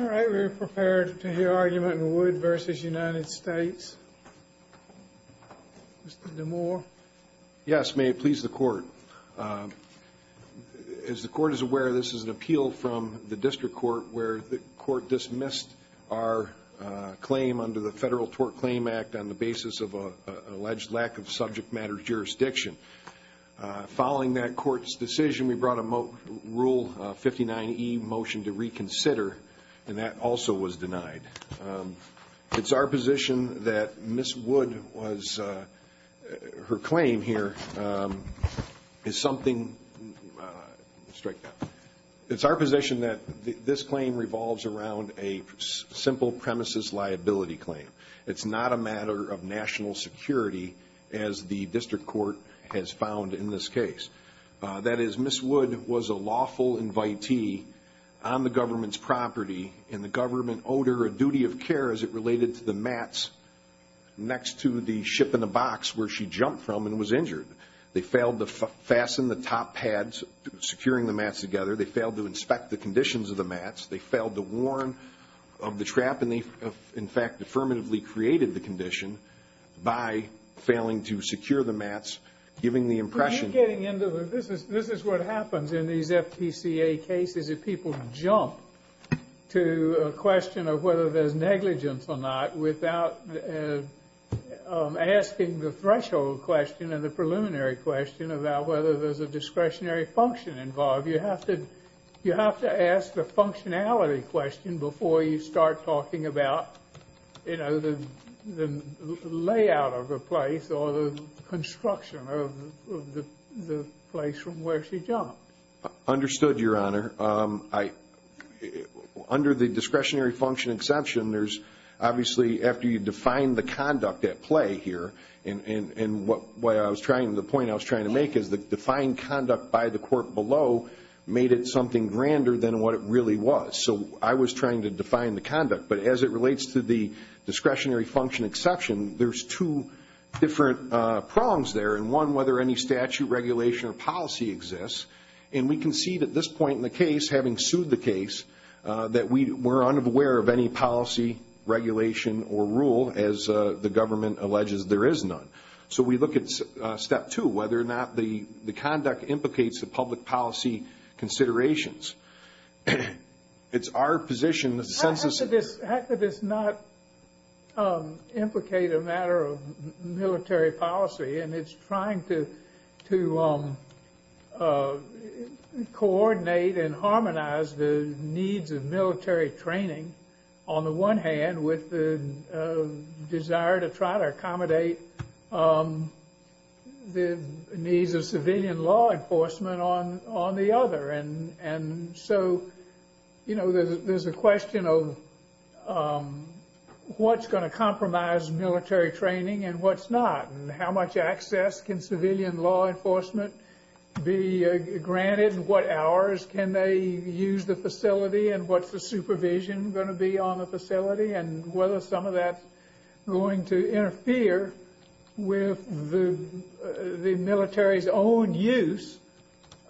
All right, we are prepared to hear argument in Wood v. United States. Mr. DeMoor. Yes, may it please the court. As the court is aware, this is an appeal from the district court where the court dismissed our claim under the Federal Tort Claim Act on the basis of an alleged lack of subject matter jurisdiction. Following that court's decision, we brought a Rule 59e motion to reconsider and that also was denied. It's our position that Ms. Wood was, her claim here is something, strike that, it's our position that this claim revolves around a simple premises liability claim. It's not a matter of national security as the district court has found in this case. That is, Ms. Wood was a lawful invitee on the government's property and the government owed her a duty of care as it related to the mats next to the ship in the box where she jumped from and was injured. They failed to fasten the top pads securing the mats together. They failed to inspect the conditions of the mats. They failed to warn of the trap and they, in fact, affirmatively created the condition by failing to secure the mats, giving the impression I am getting into the, this is what happens in these FPCA cases if people jump to a question of whether there's negligence or not without asking the threshold question and the preliminary question about whether there's a discretionary function involved. You have to ask the functionality question before you start talking about, you know, the layout of a place or the construction of the place from where she jumped. Understood, Your Honor. Under the discretionary function exception, there's obviously, after you define the conduct at play here, and what I was trying, the point I was trying to make is the defined conduct by the court below made it something grander than what it really was. So I was trying to define the conduct, but as it relates to the discretionary function exception, there's two different prongs there, and one, whether any statute, regulation, or policy exists. And we can see at this point in the case, having sued the case, that we're unaware of any policy, regulation, or rule as the government alleges there is none. So we look at step two, whether or not the conduct implicates the public policy considerations. It's our position as a census. How could this not implicate a matter of military policy? And it's trying to coordinate and harmonize the needs of military training, on the one hand, with the desire to try to accommodate the needs of civilian law enforcement on the other. And so, you know, there's a question of what's going to compromise military training and what's not, and how much access can civilian law enforcement be granted, and what hours can they use the facility, and what's the supervision going to be on the facility, and whether some of that's going to interfere with the military's own use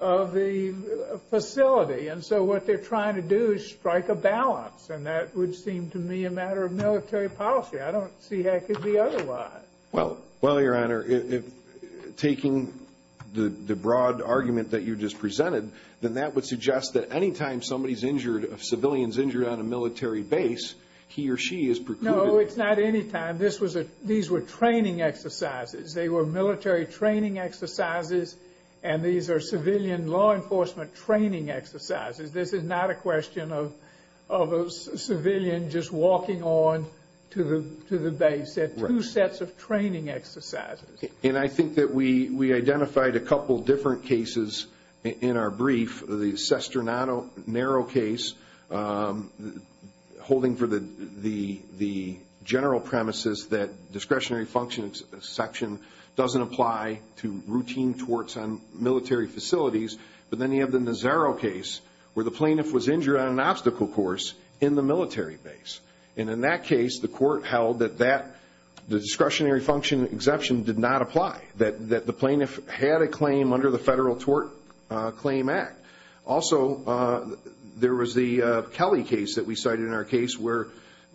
of the, the facility. And so what they're trying to do is strike a balance, and that would seem to me a matter of military policy. I don't see how it could be otherwise. Well, Your Honor, taking the broad argument that you just presented, then that would suggest that any time somebody's injured, a civilian's injured on a military base, he or she is precluded. No, it's not any time. These were training exercises. They were military training exercises, and these are civilian law enforcement training exercises. This is not a question of a civilian just walking on to the base. Right. They're two sets of training exercises. And I think that we identified a couple different cases in our brief. The Sestronado narrow case, holding for the general premises that discretionary function exception doesn't apply to routine torts on military facilities, but then you have the Nazaro case where the plaintiff was injured on an obstacle course in the military base. And in that case, the court held that that, the discretionary function exception did not apply, that the plaintiff had a claim under the Federal Tort Claim Act. Also, there was the Kelly case that we cited in our case where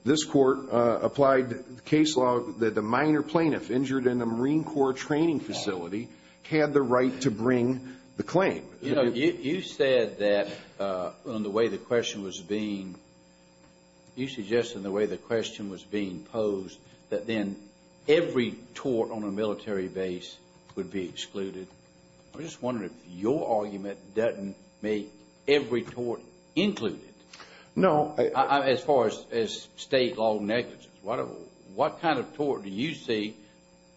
this court applied case law that the minor plaintiff injured in a Marine Corps training facility had the right to bring the claim. You know, you said that in the way the question was being, you suggested in the way the question was being posed that then every tort on a military base would be excluded. I'm just wondering if your argument doesn't make every tort included. No. As far as state law negligence, what kind of tort do you see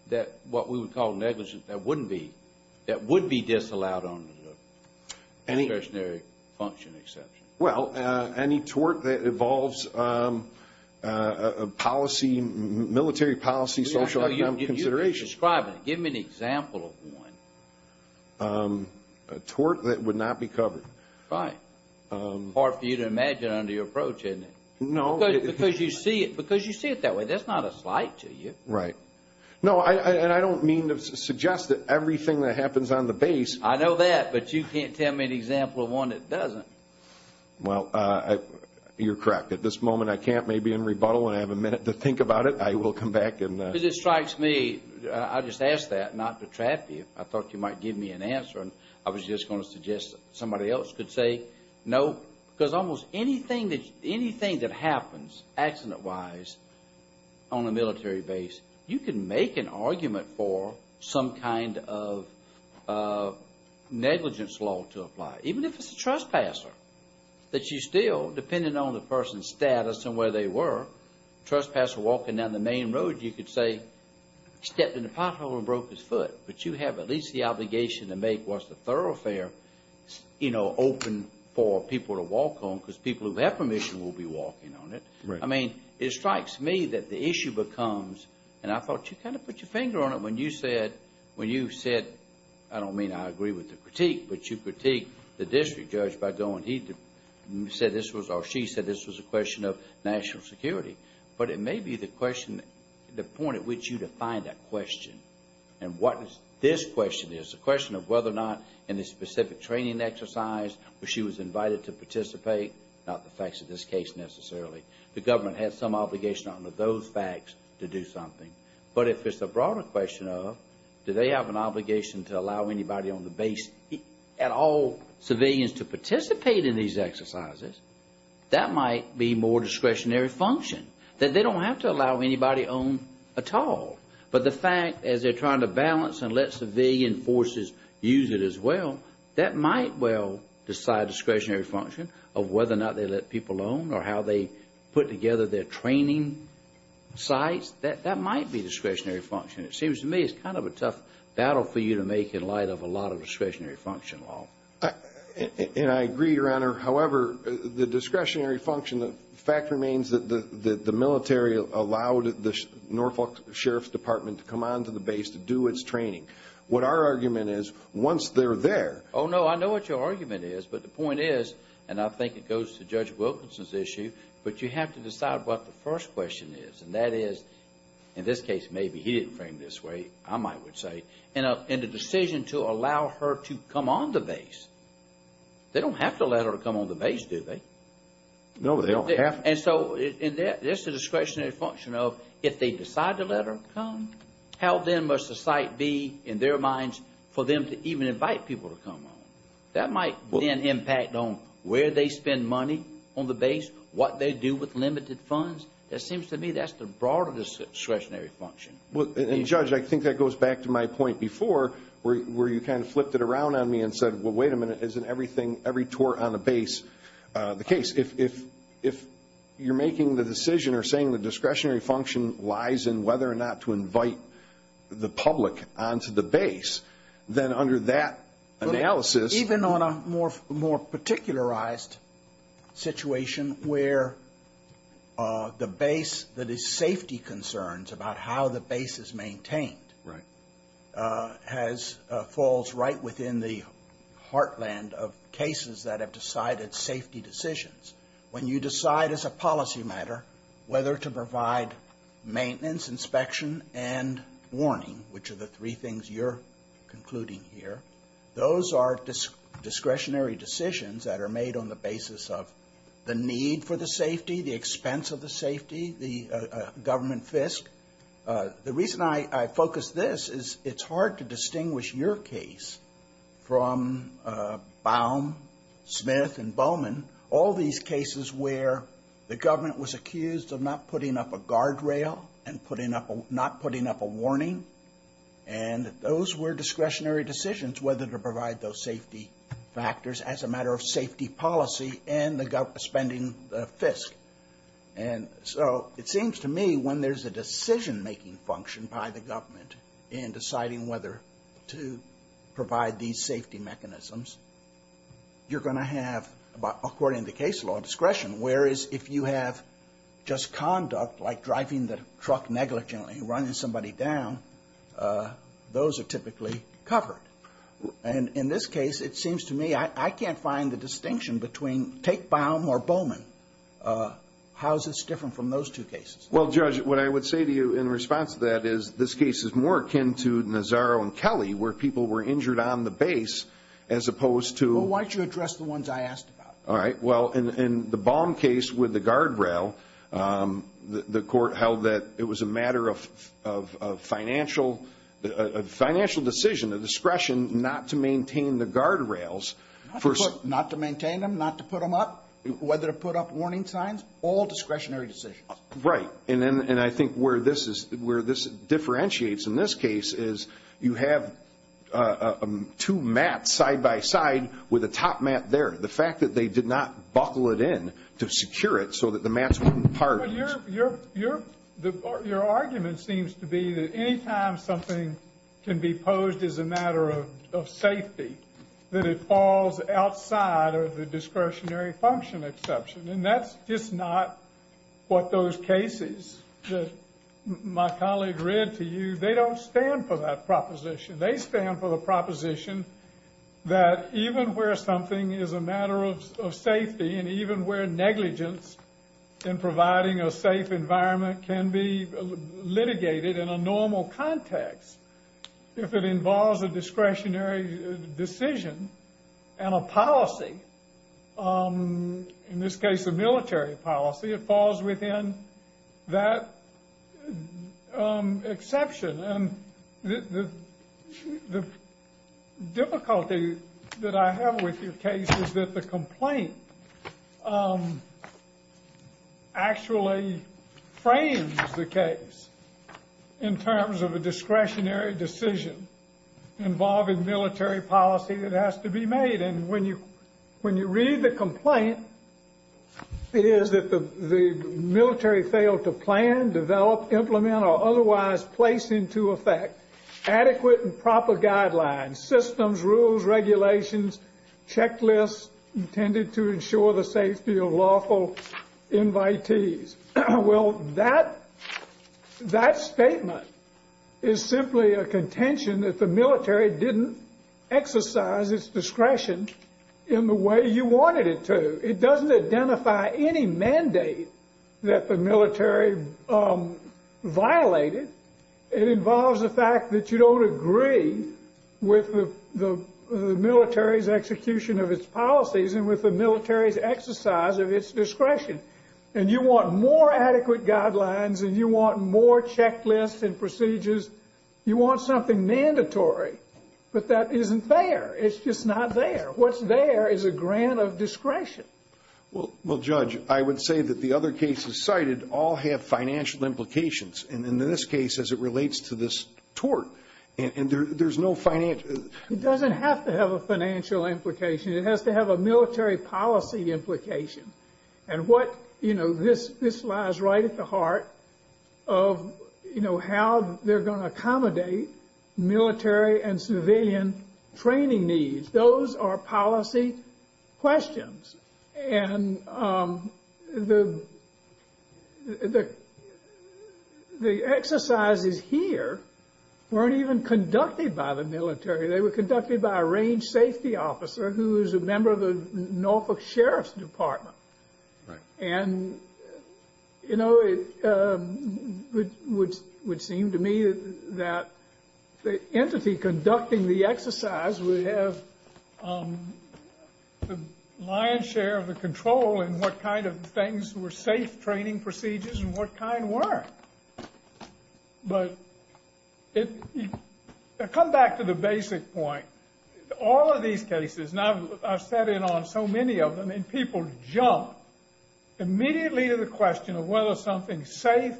that what we would call negligence that wouldn't be, that would be disallowed under the discretionary function exception? Well, any tort that involves a policy, military policy, social economic consideration. You're describing it. Give me an example of one. A tort that would not be covered. Right. Hard for you to imagine under your approach, isn't it? No. Because you see it that way. That's not a slight to you. Right. No, and I don't mean to suggest that everything that happens on the base... I know that, but you can't tell me an example of one that doesn't. Well, you're correct. At this moment, I can't. Maybe in rebuttal, when I have a minute to think about it, I will come back and... Because it strikes me, I just asked that not to trap you. I thought you might give me an answer, and I was just going to suggest that somebody else could say no. Because almost anything that happens, accident-wise, on a military base, you can make an argument for some kind of negligence law to apply, even if it's a trespasser. But you still, depending on the person's status and where they were, trespasser walking down the main road, you could say stepped in a pothole and broke his foot. But you have at least the obligation to make what's the thoroughfare open for people to walk on, because people who have permission will be walking on it. I mean, it strikes me that the issue becomes, and I thought you kind of put your finger on it when you said, I don't mean I agree with the critique, but you critiqued the district judge by going, he said this was, or she said this was a question of national security. But it may be the question, the point at which you define that question, and what this question is. The question of whether or not, in the specific training exercise, she was invited to participate, not the facts of this case necessarily. The government has some obligation under those facts to do something. But if it's a broader question of, do they have an obligation to allow anybody on the base, at all, civilians to participate in these exercises, that might be more discretionary function, that they don't have to allow anybody on at all. But the fact, as they're trying to balance and let civilian forces use it as well, that might well decide discretionary function of whether or not they let people on or how they put together their training sites. That might be discretionary function. It seems to me it's kind of a tough battle for you to make in light of a lot of discretionary function law. And I agree, Your Honor. However, the discretionary function, the fact remains that the military allowed the Norfolk Sheriff's Department to come onto the base to do its training. What our argument is, once they're there. Oh, no, I know what your argument is. But the point is, and I think it goes to Judge Wilkinson's issue, but you have to decide what the first question is. And that is, in this case, maybe he didn't frame it this way, I might would say, in the decision to allow her to come on the base. They don't have to let her come on the base, do they? No, they don't have to. And so that's the discretionary function of, if they decide to let her come, how then must the site be in their minds for them to even invite people to come on? That might then impact on where they spend money on the base, what they do with limited funds. It seems to me that's the broader discretionary function. And, Judge, I think that goes back to my point before where you kind of flipped it around on me and said, well, wait a minute, isn't every tour on the base the case? If you're making the decision or saying the discretionary function lies in whether or not to invite the public onto the base, then under that analysis. Even on a more particularized situation where the base that is safety concerns about how the base is maintained. Right. Has falls right within the heartland of cases that have decided safety decisions. When you decide as a policy matter whether to provide maintenance, inspection, and warning, which are the three things you're concluding here. Those are discretionary decisions that are made on the basis of the need for the safety, the expense of the safety, the government fisc. The reason I focus this is it's hard to distinguish your case from Baum, Smith, and Bowman. All these cases where the government was accused of not putting up a guardrail and not putting up a warning. And those were discretionary decisions whether to provide those safety factors as a matter of safety policy and the spending fisc. And so it seems to me when there's a decision-making function by the government in deciding whether to provide these safety mechanisms, you're going to have, according to case law, discretion. Whereas if you have just conduct like driving the truck negligently and running somebody down, those are typically covered. And in this case, it seems to me I can't find the distinction between take Baum or Bowman. How is this different from those two cases? Well, Judge, what I would say to you in response to that is this case is more akin to Nazaro and Kelly where people were injured on the base as opposed to. Well, why don't you address the ones I asked about? All right. Well, in the Baum case with the guardrail, the court held that it was a matter of financial decision, a discretion not to maintain the guardrails. Not to maintain them, not to put them up, whether to put up warning signs, all discretionary decisions. Right. And I think where this differentiates in this case is you have two mats side by side with a top mat there. The fact that they did not buckle it in to secure it so that the mats wouldn't part. Well, your argument seems to be that any time something can be posed as a matter of safety, that it falls outside of the discretionary function exception. And that's just not what those cases that my colleague read to you, they don't stand for that proposition. They stand for the proposition that even where something is a matter of safety and even where negligence in providing a safe environment can be litigated in a normal context, if it involves a discretionary decision and a policy, in this case a military policy, it falls within that exception. And the difficulty that I have with your case is that the complaint actually frames the case in terms of a discretionary decision involving military policy that has to be made. And when you read the complaint, it is that the military failed to plan, develop, implement, or otherwise place into effect adequate and proper guidelines, systems, rules, regulations, checklists intended to ensure the safety of lawful invitees. Well, that statement is simply a contention that the military didn't exercise its discretion in the way you wanted it to. It doesn't identify any mandate that the military violated. It involves the fact that you don't agree with the military's execution of its policies and with the military's exercise of its discretion. And you want more adequate guidelines and you want more checklists and procedures. You want something mandatory. But that isn't there. It's just not there. What's there is a grant of discretion. Well, Judge, I would say that the other cases cited all have financial implications. And in this case, as it relates to this tort, there's no financial. It doesn't have to have a financial implication. It has to have a military policy implication. And what, you know, this lies right at the heart of, you know, how they're going to accommodate military and civilian training needs. Those are policy questions. And the exercises here weren't even conducted by the military. They were conducted by a range safety officer who is a member of the Norfolk Sheriff's Department. And, you know, it would seem to me that the entity conducting the exercise would have the lion's share of the control in what kind of things were safe training procedures and what kind weren't. But come back to the basic point. All of these cases, and I've sat in on so many of them, and people jump immediately to the question of whether something's safe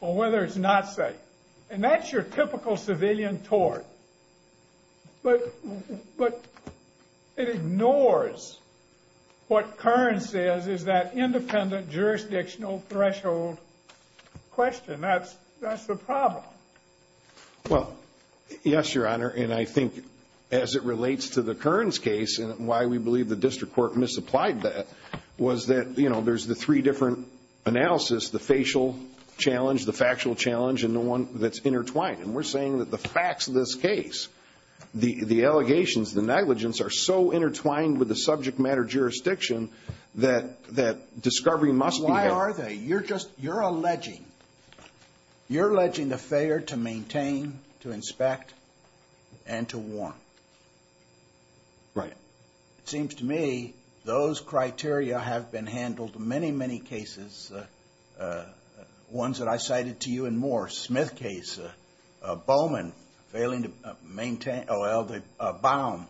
or whether it's not safe. And that's your typical civilian tort. But it ignores what Kearns says is that independent jurisdictional threshold question. That's the problem. Well, yes, Your Honor, and I think as it relates to the Kearns case and why we believe the district court misapplied that was that, you know, there's the three different analysis, the facial challenge, the factual challenge, and the one that's intertwined. And we're saying that the facts of this case, the allegations, the negligence, are so intertwined with the subject matter jurisdiction that discovery must be had. Why are they? You're alleging the failure to maintain, to inspect, and to warn. Right. It seems to me those criteria have been handled in many, many cases. Ones that I cited to you and more. Smith case, Bowman failing to maintain, well, Baum,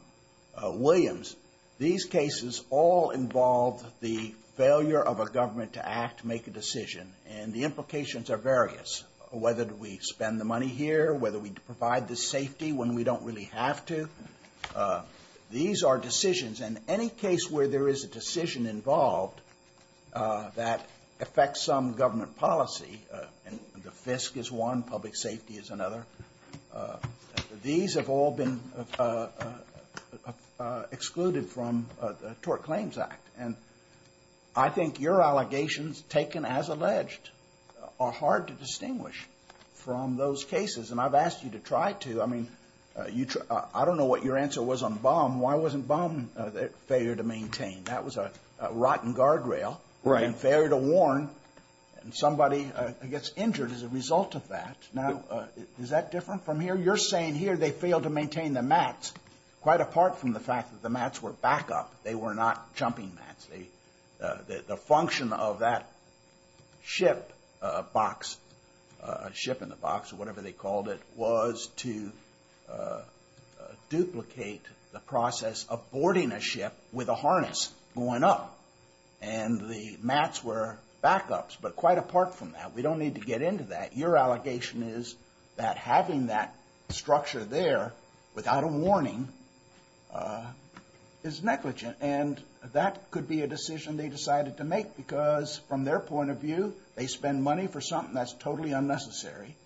Williams. These cases all involve the failure of a government to act, make a decision. And the implications are various, whether we spend the money here, whether we provide the safety when we don't really have to. These are decisions. And any case where there is a decision involved that affects some government policy, and the FISC is one, public safety is another, these have all been excluded from the Tort Claims Act. And I think your allegations, taken as alleged, are hard to distinguish from those cases. And I've asked you to try to. I mean, I don't know what your answer was on Baum. Why wasn't Baum a failure to maintain? That was a rotten guardrail. Right. And failure to warn. And somebody gets injured as a result of that. Now, is that different from here? You're saying here they failed to maintain the mats, quite apart from the fact that the mats were backup. They were not jumping mats. The function of that ship box, ship in the box or whatever they called it, was to duplicate the process of boarding a ship with a harness going up. And the mats were backups. But quite apart from that. We don't need to get into that. Your allegation is that having that structure there without a warning is negligent. And that could be a decision they decided to make because, from their point of view, they spend money for something that's totally unnecessary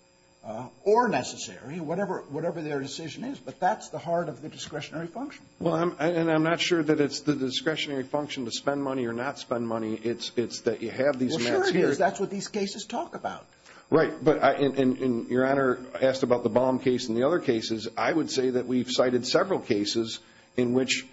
or necessary, whatever their decision is. But that's the heart of the discretionary function. Well, and I'm not sure that it's the discretionary function to spend money or not spend money. It's that you have these mats here. Well, sure it is. That's what these cases talk about. Right. And Your Honor asked about the Baum case and the other cases. I would say that we've cited several cases in which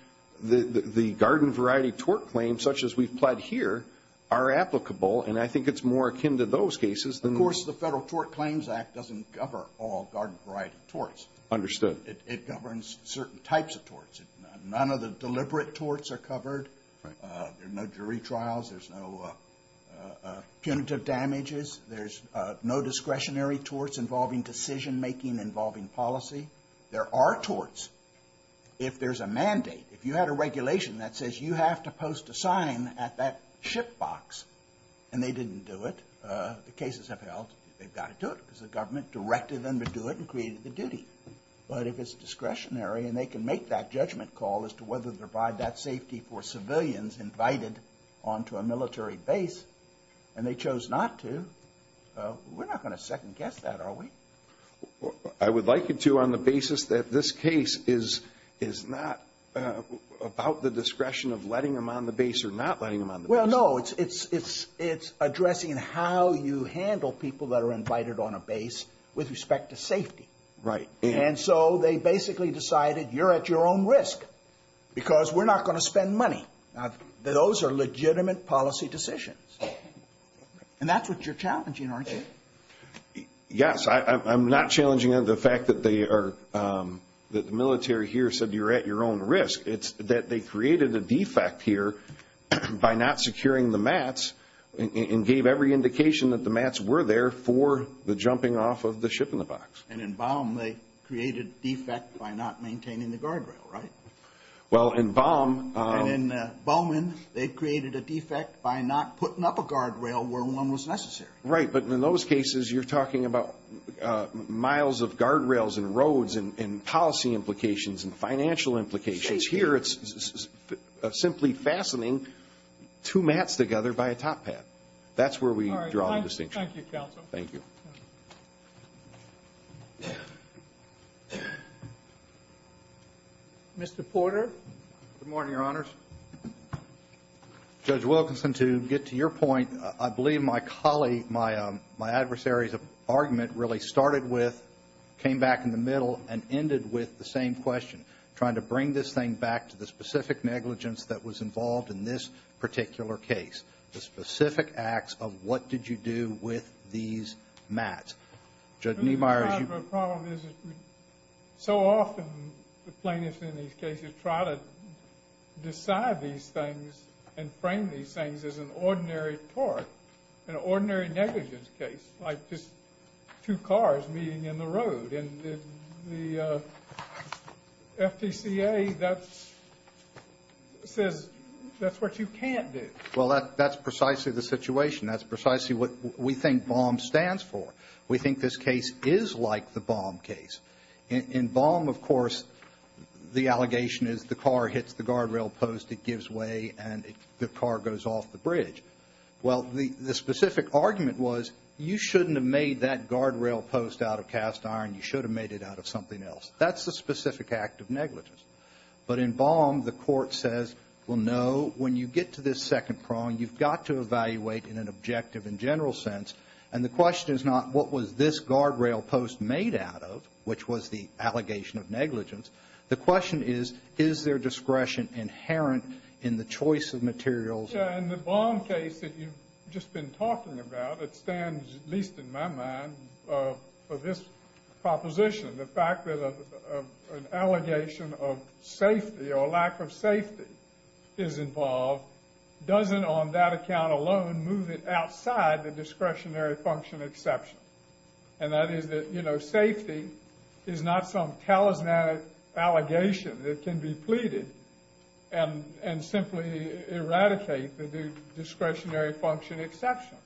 the garden variety tort claims, such as we've pled here, are applicable. And I think it's more akin to those cases. Of course, the Federal Tort Claims Act doesn't cover all garden variety torts. Understood. It governs certain types of torts. None of the deliberate torts are covered. There are no jury trials. There's no punitive damages. There's no discretionary torts involving decision-making, involving policy. There are torts. If there's a mandate, if you had a regulation that says you have to post a sign at that ship box and they didn't do it, the cases have held, they've got to do it because the government directed them to do it and created the duty. But if it's discretionary and they can make that judgment call as to whether to provide that safety for civilians invited onto a military base, and they chose not to, we're not going to second-guess that, are we? I would like you to on the basis that this case is not about the discretion of letting them on the base or not letting them on the base. Well, no. It's addressing how you handle people that are invited on a base with respect to safety. Right. And so they basically decided you're at your own risk because we're not going to spend money. Those are legitimate policy decisions. And that's what you're challenging, aren't you? Yes. I'm not challenging the fact that the military here said you're at your own risk. It's that they created a defect here by not securing the mats and gave every indication that the mats were there for the jumping off of the ship in the box. And in Baum, they created defect by not maintaining the guardrail, right? Well, in Baum. And in Bowman, they created a defect by not putting up a guardrail where one was necessary. Right. But in those cases, you're talking about miles of guardrails and roads and policy implications and financial implications. Here, it's simply fastening two mats together by a top hat. That's where we draw the distinction. Thank you, Counsel. Thank you. Mr. Porter. Good morning, Your Honors. Judge Wilkinson, to get to your point, I believe my colleague, my adversary's argument really started with, came back in the middle, and ended with the same question, trying to bring this thing back to the specific negligence that was involved in this particular case, the specific acts of what did you do with these mats. Judge Niemeyer. The problem is so often the plaintiffs in these cases try to decide these things and frame these things as an ordinary tort, an ordinary negligence case, like just two cars meeting in the road. And the FTCA says that's what you can't do. Well, that's precisely the situation. That's precisely what we think BOM stands for. We think this case is like the BOM case. In BOM, of course, the allegation is the car hits the guardrail post, it gives way, and the car goes off the bridge. Well, the specific argument was you shouldn't have made that guardrail post out of cast iron. You should have made it out of something else. That's the specific act of negligence. But in BOM, the court says, well, no, when you get to this second prong, you've got to evaluate in an objective and general sense. And the question is not what was this guardrail post made out of, which was the allegation of negligence. The question is, is there discretion inherent in the choice of materials? In the BOM case that you've just been talking about, it stands, at least in my mind, for this proposition, the fact that an allegation of safety or lack of safety is involved doesn't on that account alone move it outside the discretionary function exception. And that is that safety is not some talismanic allegation that can be pleaded and simply eradicate the discretionary function exception.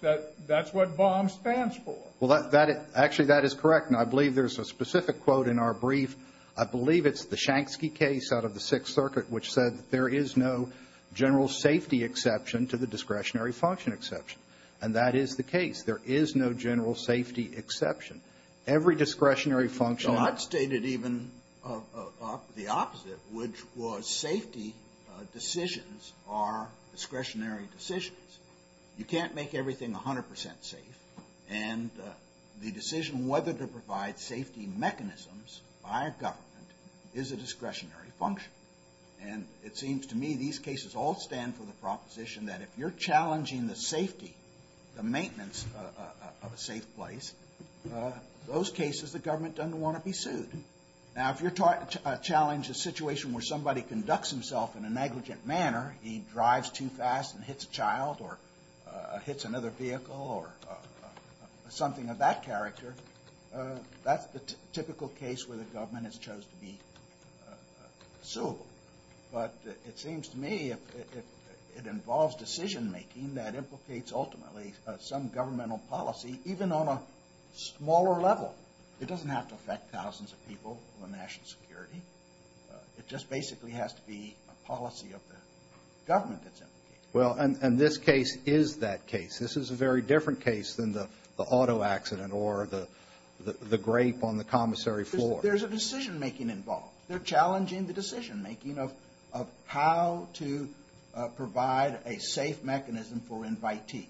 That's what BOM stands for. Well, actually, that is correct. And I believe there's a specific quote in our brief. I believe it's the Shanksky case out of the Sixth Circuit, which said that there is no general safety exception to the discretionary function exception. And that is the case. There is no general safety exception. Every discretionary function – So I've stated even the opposite, which was safety decisions are discretionary decisions. You can't make everything 100 percent safe. And the decision whether to provide safety mechanisms by a government is a discretionary function. And it seems to me these cases all stand for the proposition that if you're challenging the safety, the maintenance of a safe place, those cases the government doesn't want to be sued. Now, if you're trying to challenge a situation where somebody conducts himself in a negligent manner, he drives too fast and hits a child or hits another vehicle or something of that character, that's the typical case where the government has chose to be suable. But it seems to me it involves decision-making that implicates ultimately some governmental policy, even on a smaller level. It doesn't have to affect thousands of people or national security. It just basically has to be a policy of the government that's implicated. Well, and this case is that case. This is a very different case than the auto accident or the grape on the commissary floor. There's a decision-making involved. They're challenging the decision-making of how to provide a safe mechanism for invitees.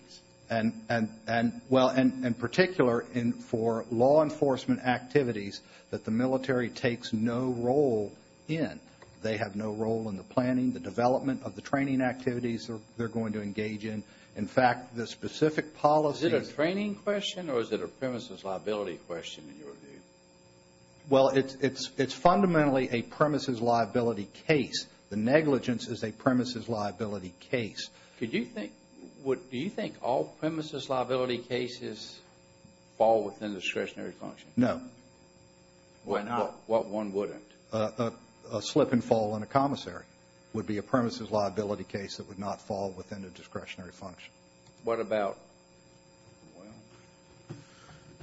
And, well, in particular, for law enforcement activities that the military takes no role in. They have no role in the planning, the development of the training activities they're going to engage in. In fact, the specific policies – Is it a training question or is it a premises liability question in your view? Well, it's fundamentally a premises liability case. The negligence is a premises liability case. Do you think all premises liability cases fall within discretionary function? No. Why not? What one wouldn't? A slip and fall on a commissary would be a premises liability case that would not fall within a discretionary function. What about –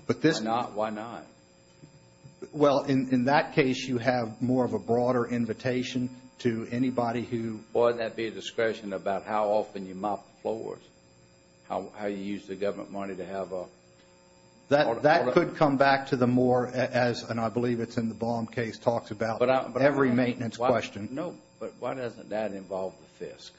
well, why not? Well, in that case, you have more of a broader invitation to anybody who – Why would that be a discretion about how often you mop the floors? How you use the government money to have a – That could come back to the more as – and I believe it's in the Baum case talks about every maintenance question. No, but why doesn't that involve the FISC?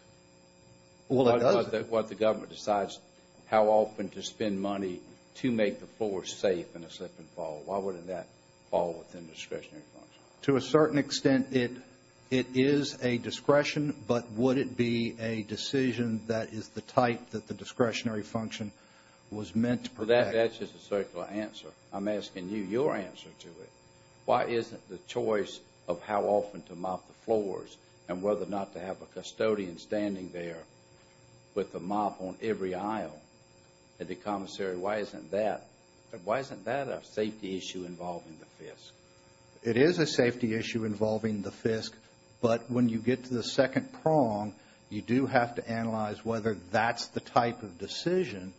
Well, it does. What the government decides how often to spend money to make the floors safe in a slip and fall. Why wouldn't that fall within discretionary function? To a certain extent, it is a discretion, but would it be a decision that is the type that the discretionary function was meant to protect? That's just a circular answer. I'm asking you your answer to it. Why isn't the choice of how often to mop the floors and whether or not to have a custodian standing there with the mop on every aisle at the commissary, why isn't that a safety issue involving the FISC? It is a safety issue involving the FISC, but when you get to the second prong, you do have to analyze whether that's the type of decision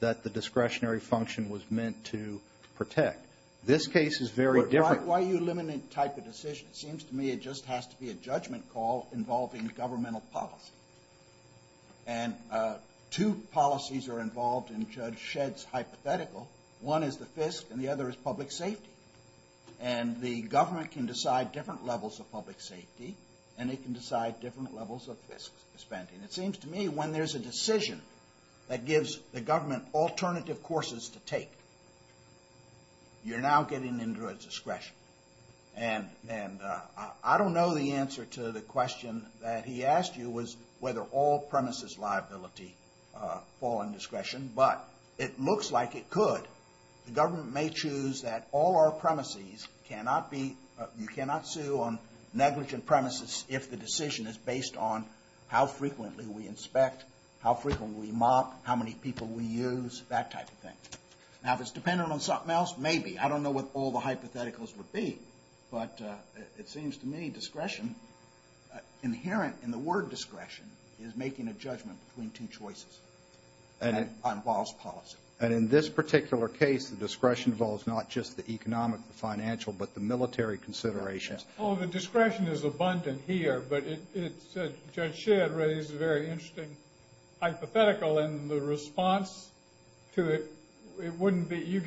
that the discretionary function was meant to protect. This case is very different. Why are you limiting the type of decision? It seems to me it just has to be a judgment call involving governmental policy. And two policies are involved in Judge Shedd's hypothetical. One is the FISC and the other is public safety. And the government can decide different levels of public safety and it can decide different levels of FISC spending. It seems to me when there's a decision that gives the government alternative courses to take, you're now getting into a discretion. And I don't know the answer to the question that he asked you was whether all premises liability fall in discretion, but it looks like it could. The government may choose that all our premises cannot be, you cannot sue on negligent premises if the decision is based on how frequently we inspect, how frequently we mop, how many people we use, that type of thing. Now if it's dependent on something else, maybe. I don't know what all the hypotheticals would be, but it seems to me discretion, inherent in the word discretion, is making a judgment between two choices. And it involves policy. And in this particular case, the discretion involves not just the economic, the financial, but the military considerations. Well, the discretion is abundant here, but Judge Shedd raised a very interesting hypothetical, and the response to it, it wouldn't be, you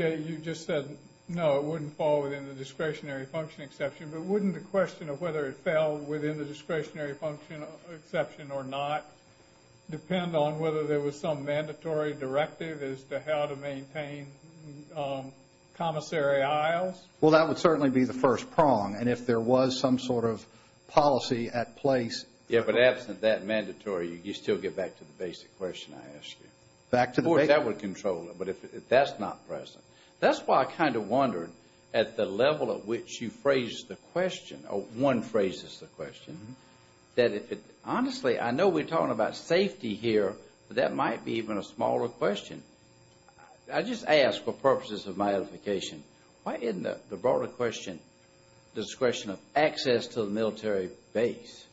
just said, no, it wouldn't fall within the discretionary function exception, but wouldn't the question of whether it fell within the discretionary function exception or not depend on whether there was some mandatory directive as to how to maintain commissary aisles? Well, that would certainly be the first prong. And if there was some sort of policy at place. Yeah, but absent that mandatory, you still get back to the basic question I asked you. Of course, that would control it, but that's not present. That's why I kind of wondered at the level at which you phrased the question, or one phrased the question, that if it, honestly, I know we're talking about safety here, but that might be even a smaller question. I just ask for purposes of my edification, why isn't the broader question the discretion of access to the military base?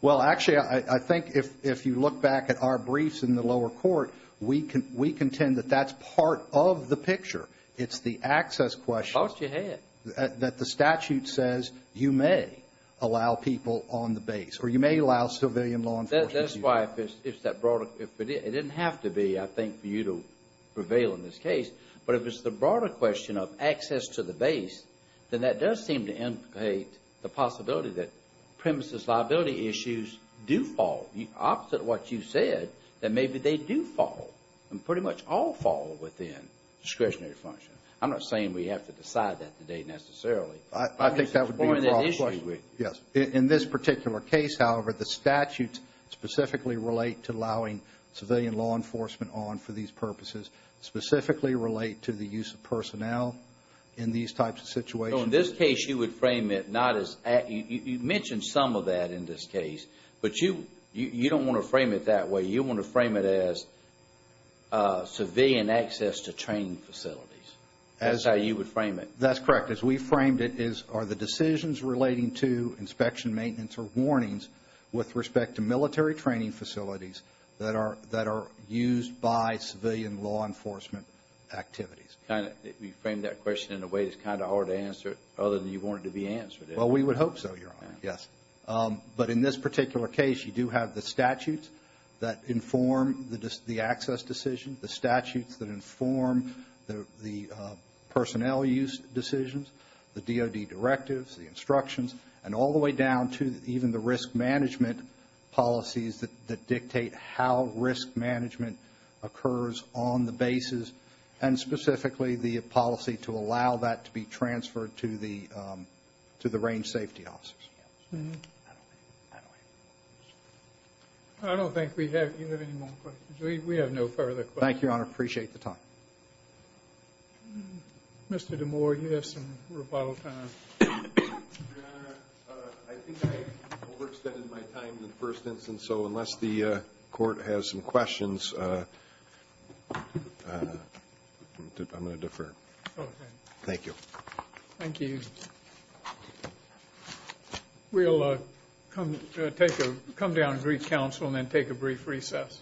Well, actually, I think if you look back at our briefs in the lower court, we contend that that's part of the picture. It's the access question. You lost your head. That the statute says you may allow people on the base, or you may allow civilian law enforcement. That's why if it's that broader, it didn't have to be, I think, for you to prevail in this case, but if it's the broader question of access to the base, then that does seem to implicate the possibility that premises liability issues do fall, the opposite of what you said, that maybe they do fall, and pretty much all fall within discretionary function. I'm not saying we have to decide that today necessarily. I think that would be a broader question. Yes. In this particular case, however, the statutes specifically relate to allowing civilian law enforcement on for these purposes, specifically relate to the use of personnel in these types of situations. So in this case, you would frame it not as, you mentioned some of that in this case, but you don't want to frame it that way. You don't want to frame it as civilian access to training facilities. That's how you would frame it. That's correct. As we framed it, are the decisions relating to inspection, maintenance, or warnings with respect to military training facilities that are used by civilian law enforcement activities. We framed that question in a way that's kind of hard to answer, other than you want it to be answered. Well, we would hope so, Your Honor. Yes. But in this particular case, you do have the statutes that inform the access decision, the statutes that inform the personnel use decisions, the DOD directives, the instructions, and all the way down to even the risk management policies that dictate how risk management occurs on the basis, and specifically the policy to allow that to be transferred to the range safety officers. I don't think we have any more questions. We have no further questions. Thank you, Your Honor. Appreciate the time. Mr. DeMoor, you have some rebuttal time. Your Honor, I think I overextended my time in the first instance, so unless the Court has some questions, I'm going to defer. Okay. Thank you. Thank you. We'll come down and reach counsel and then take a brief recess.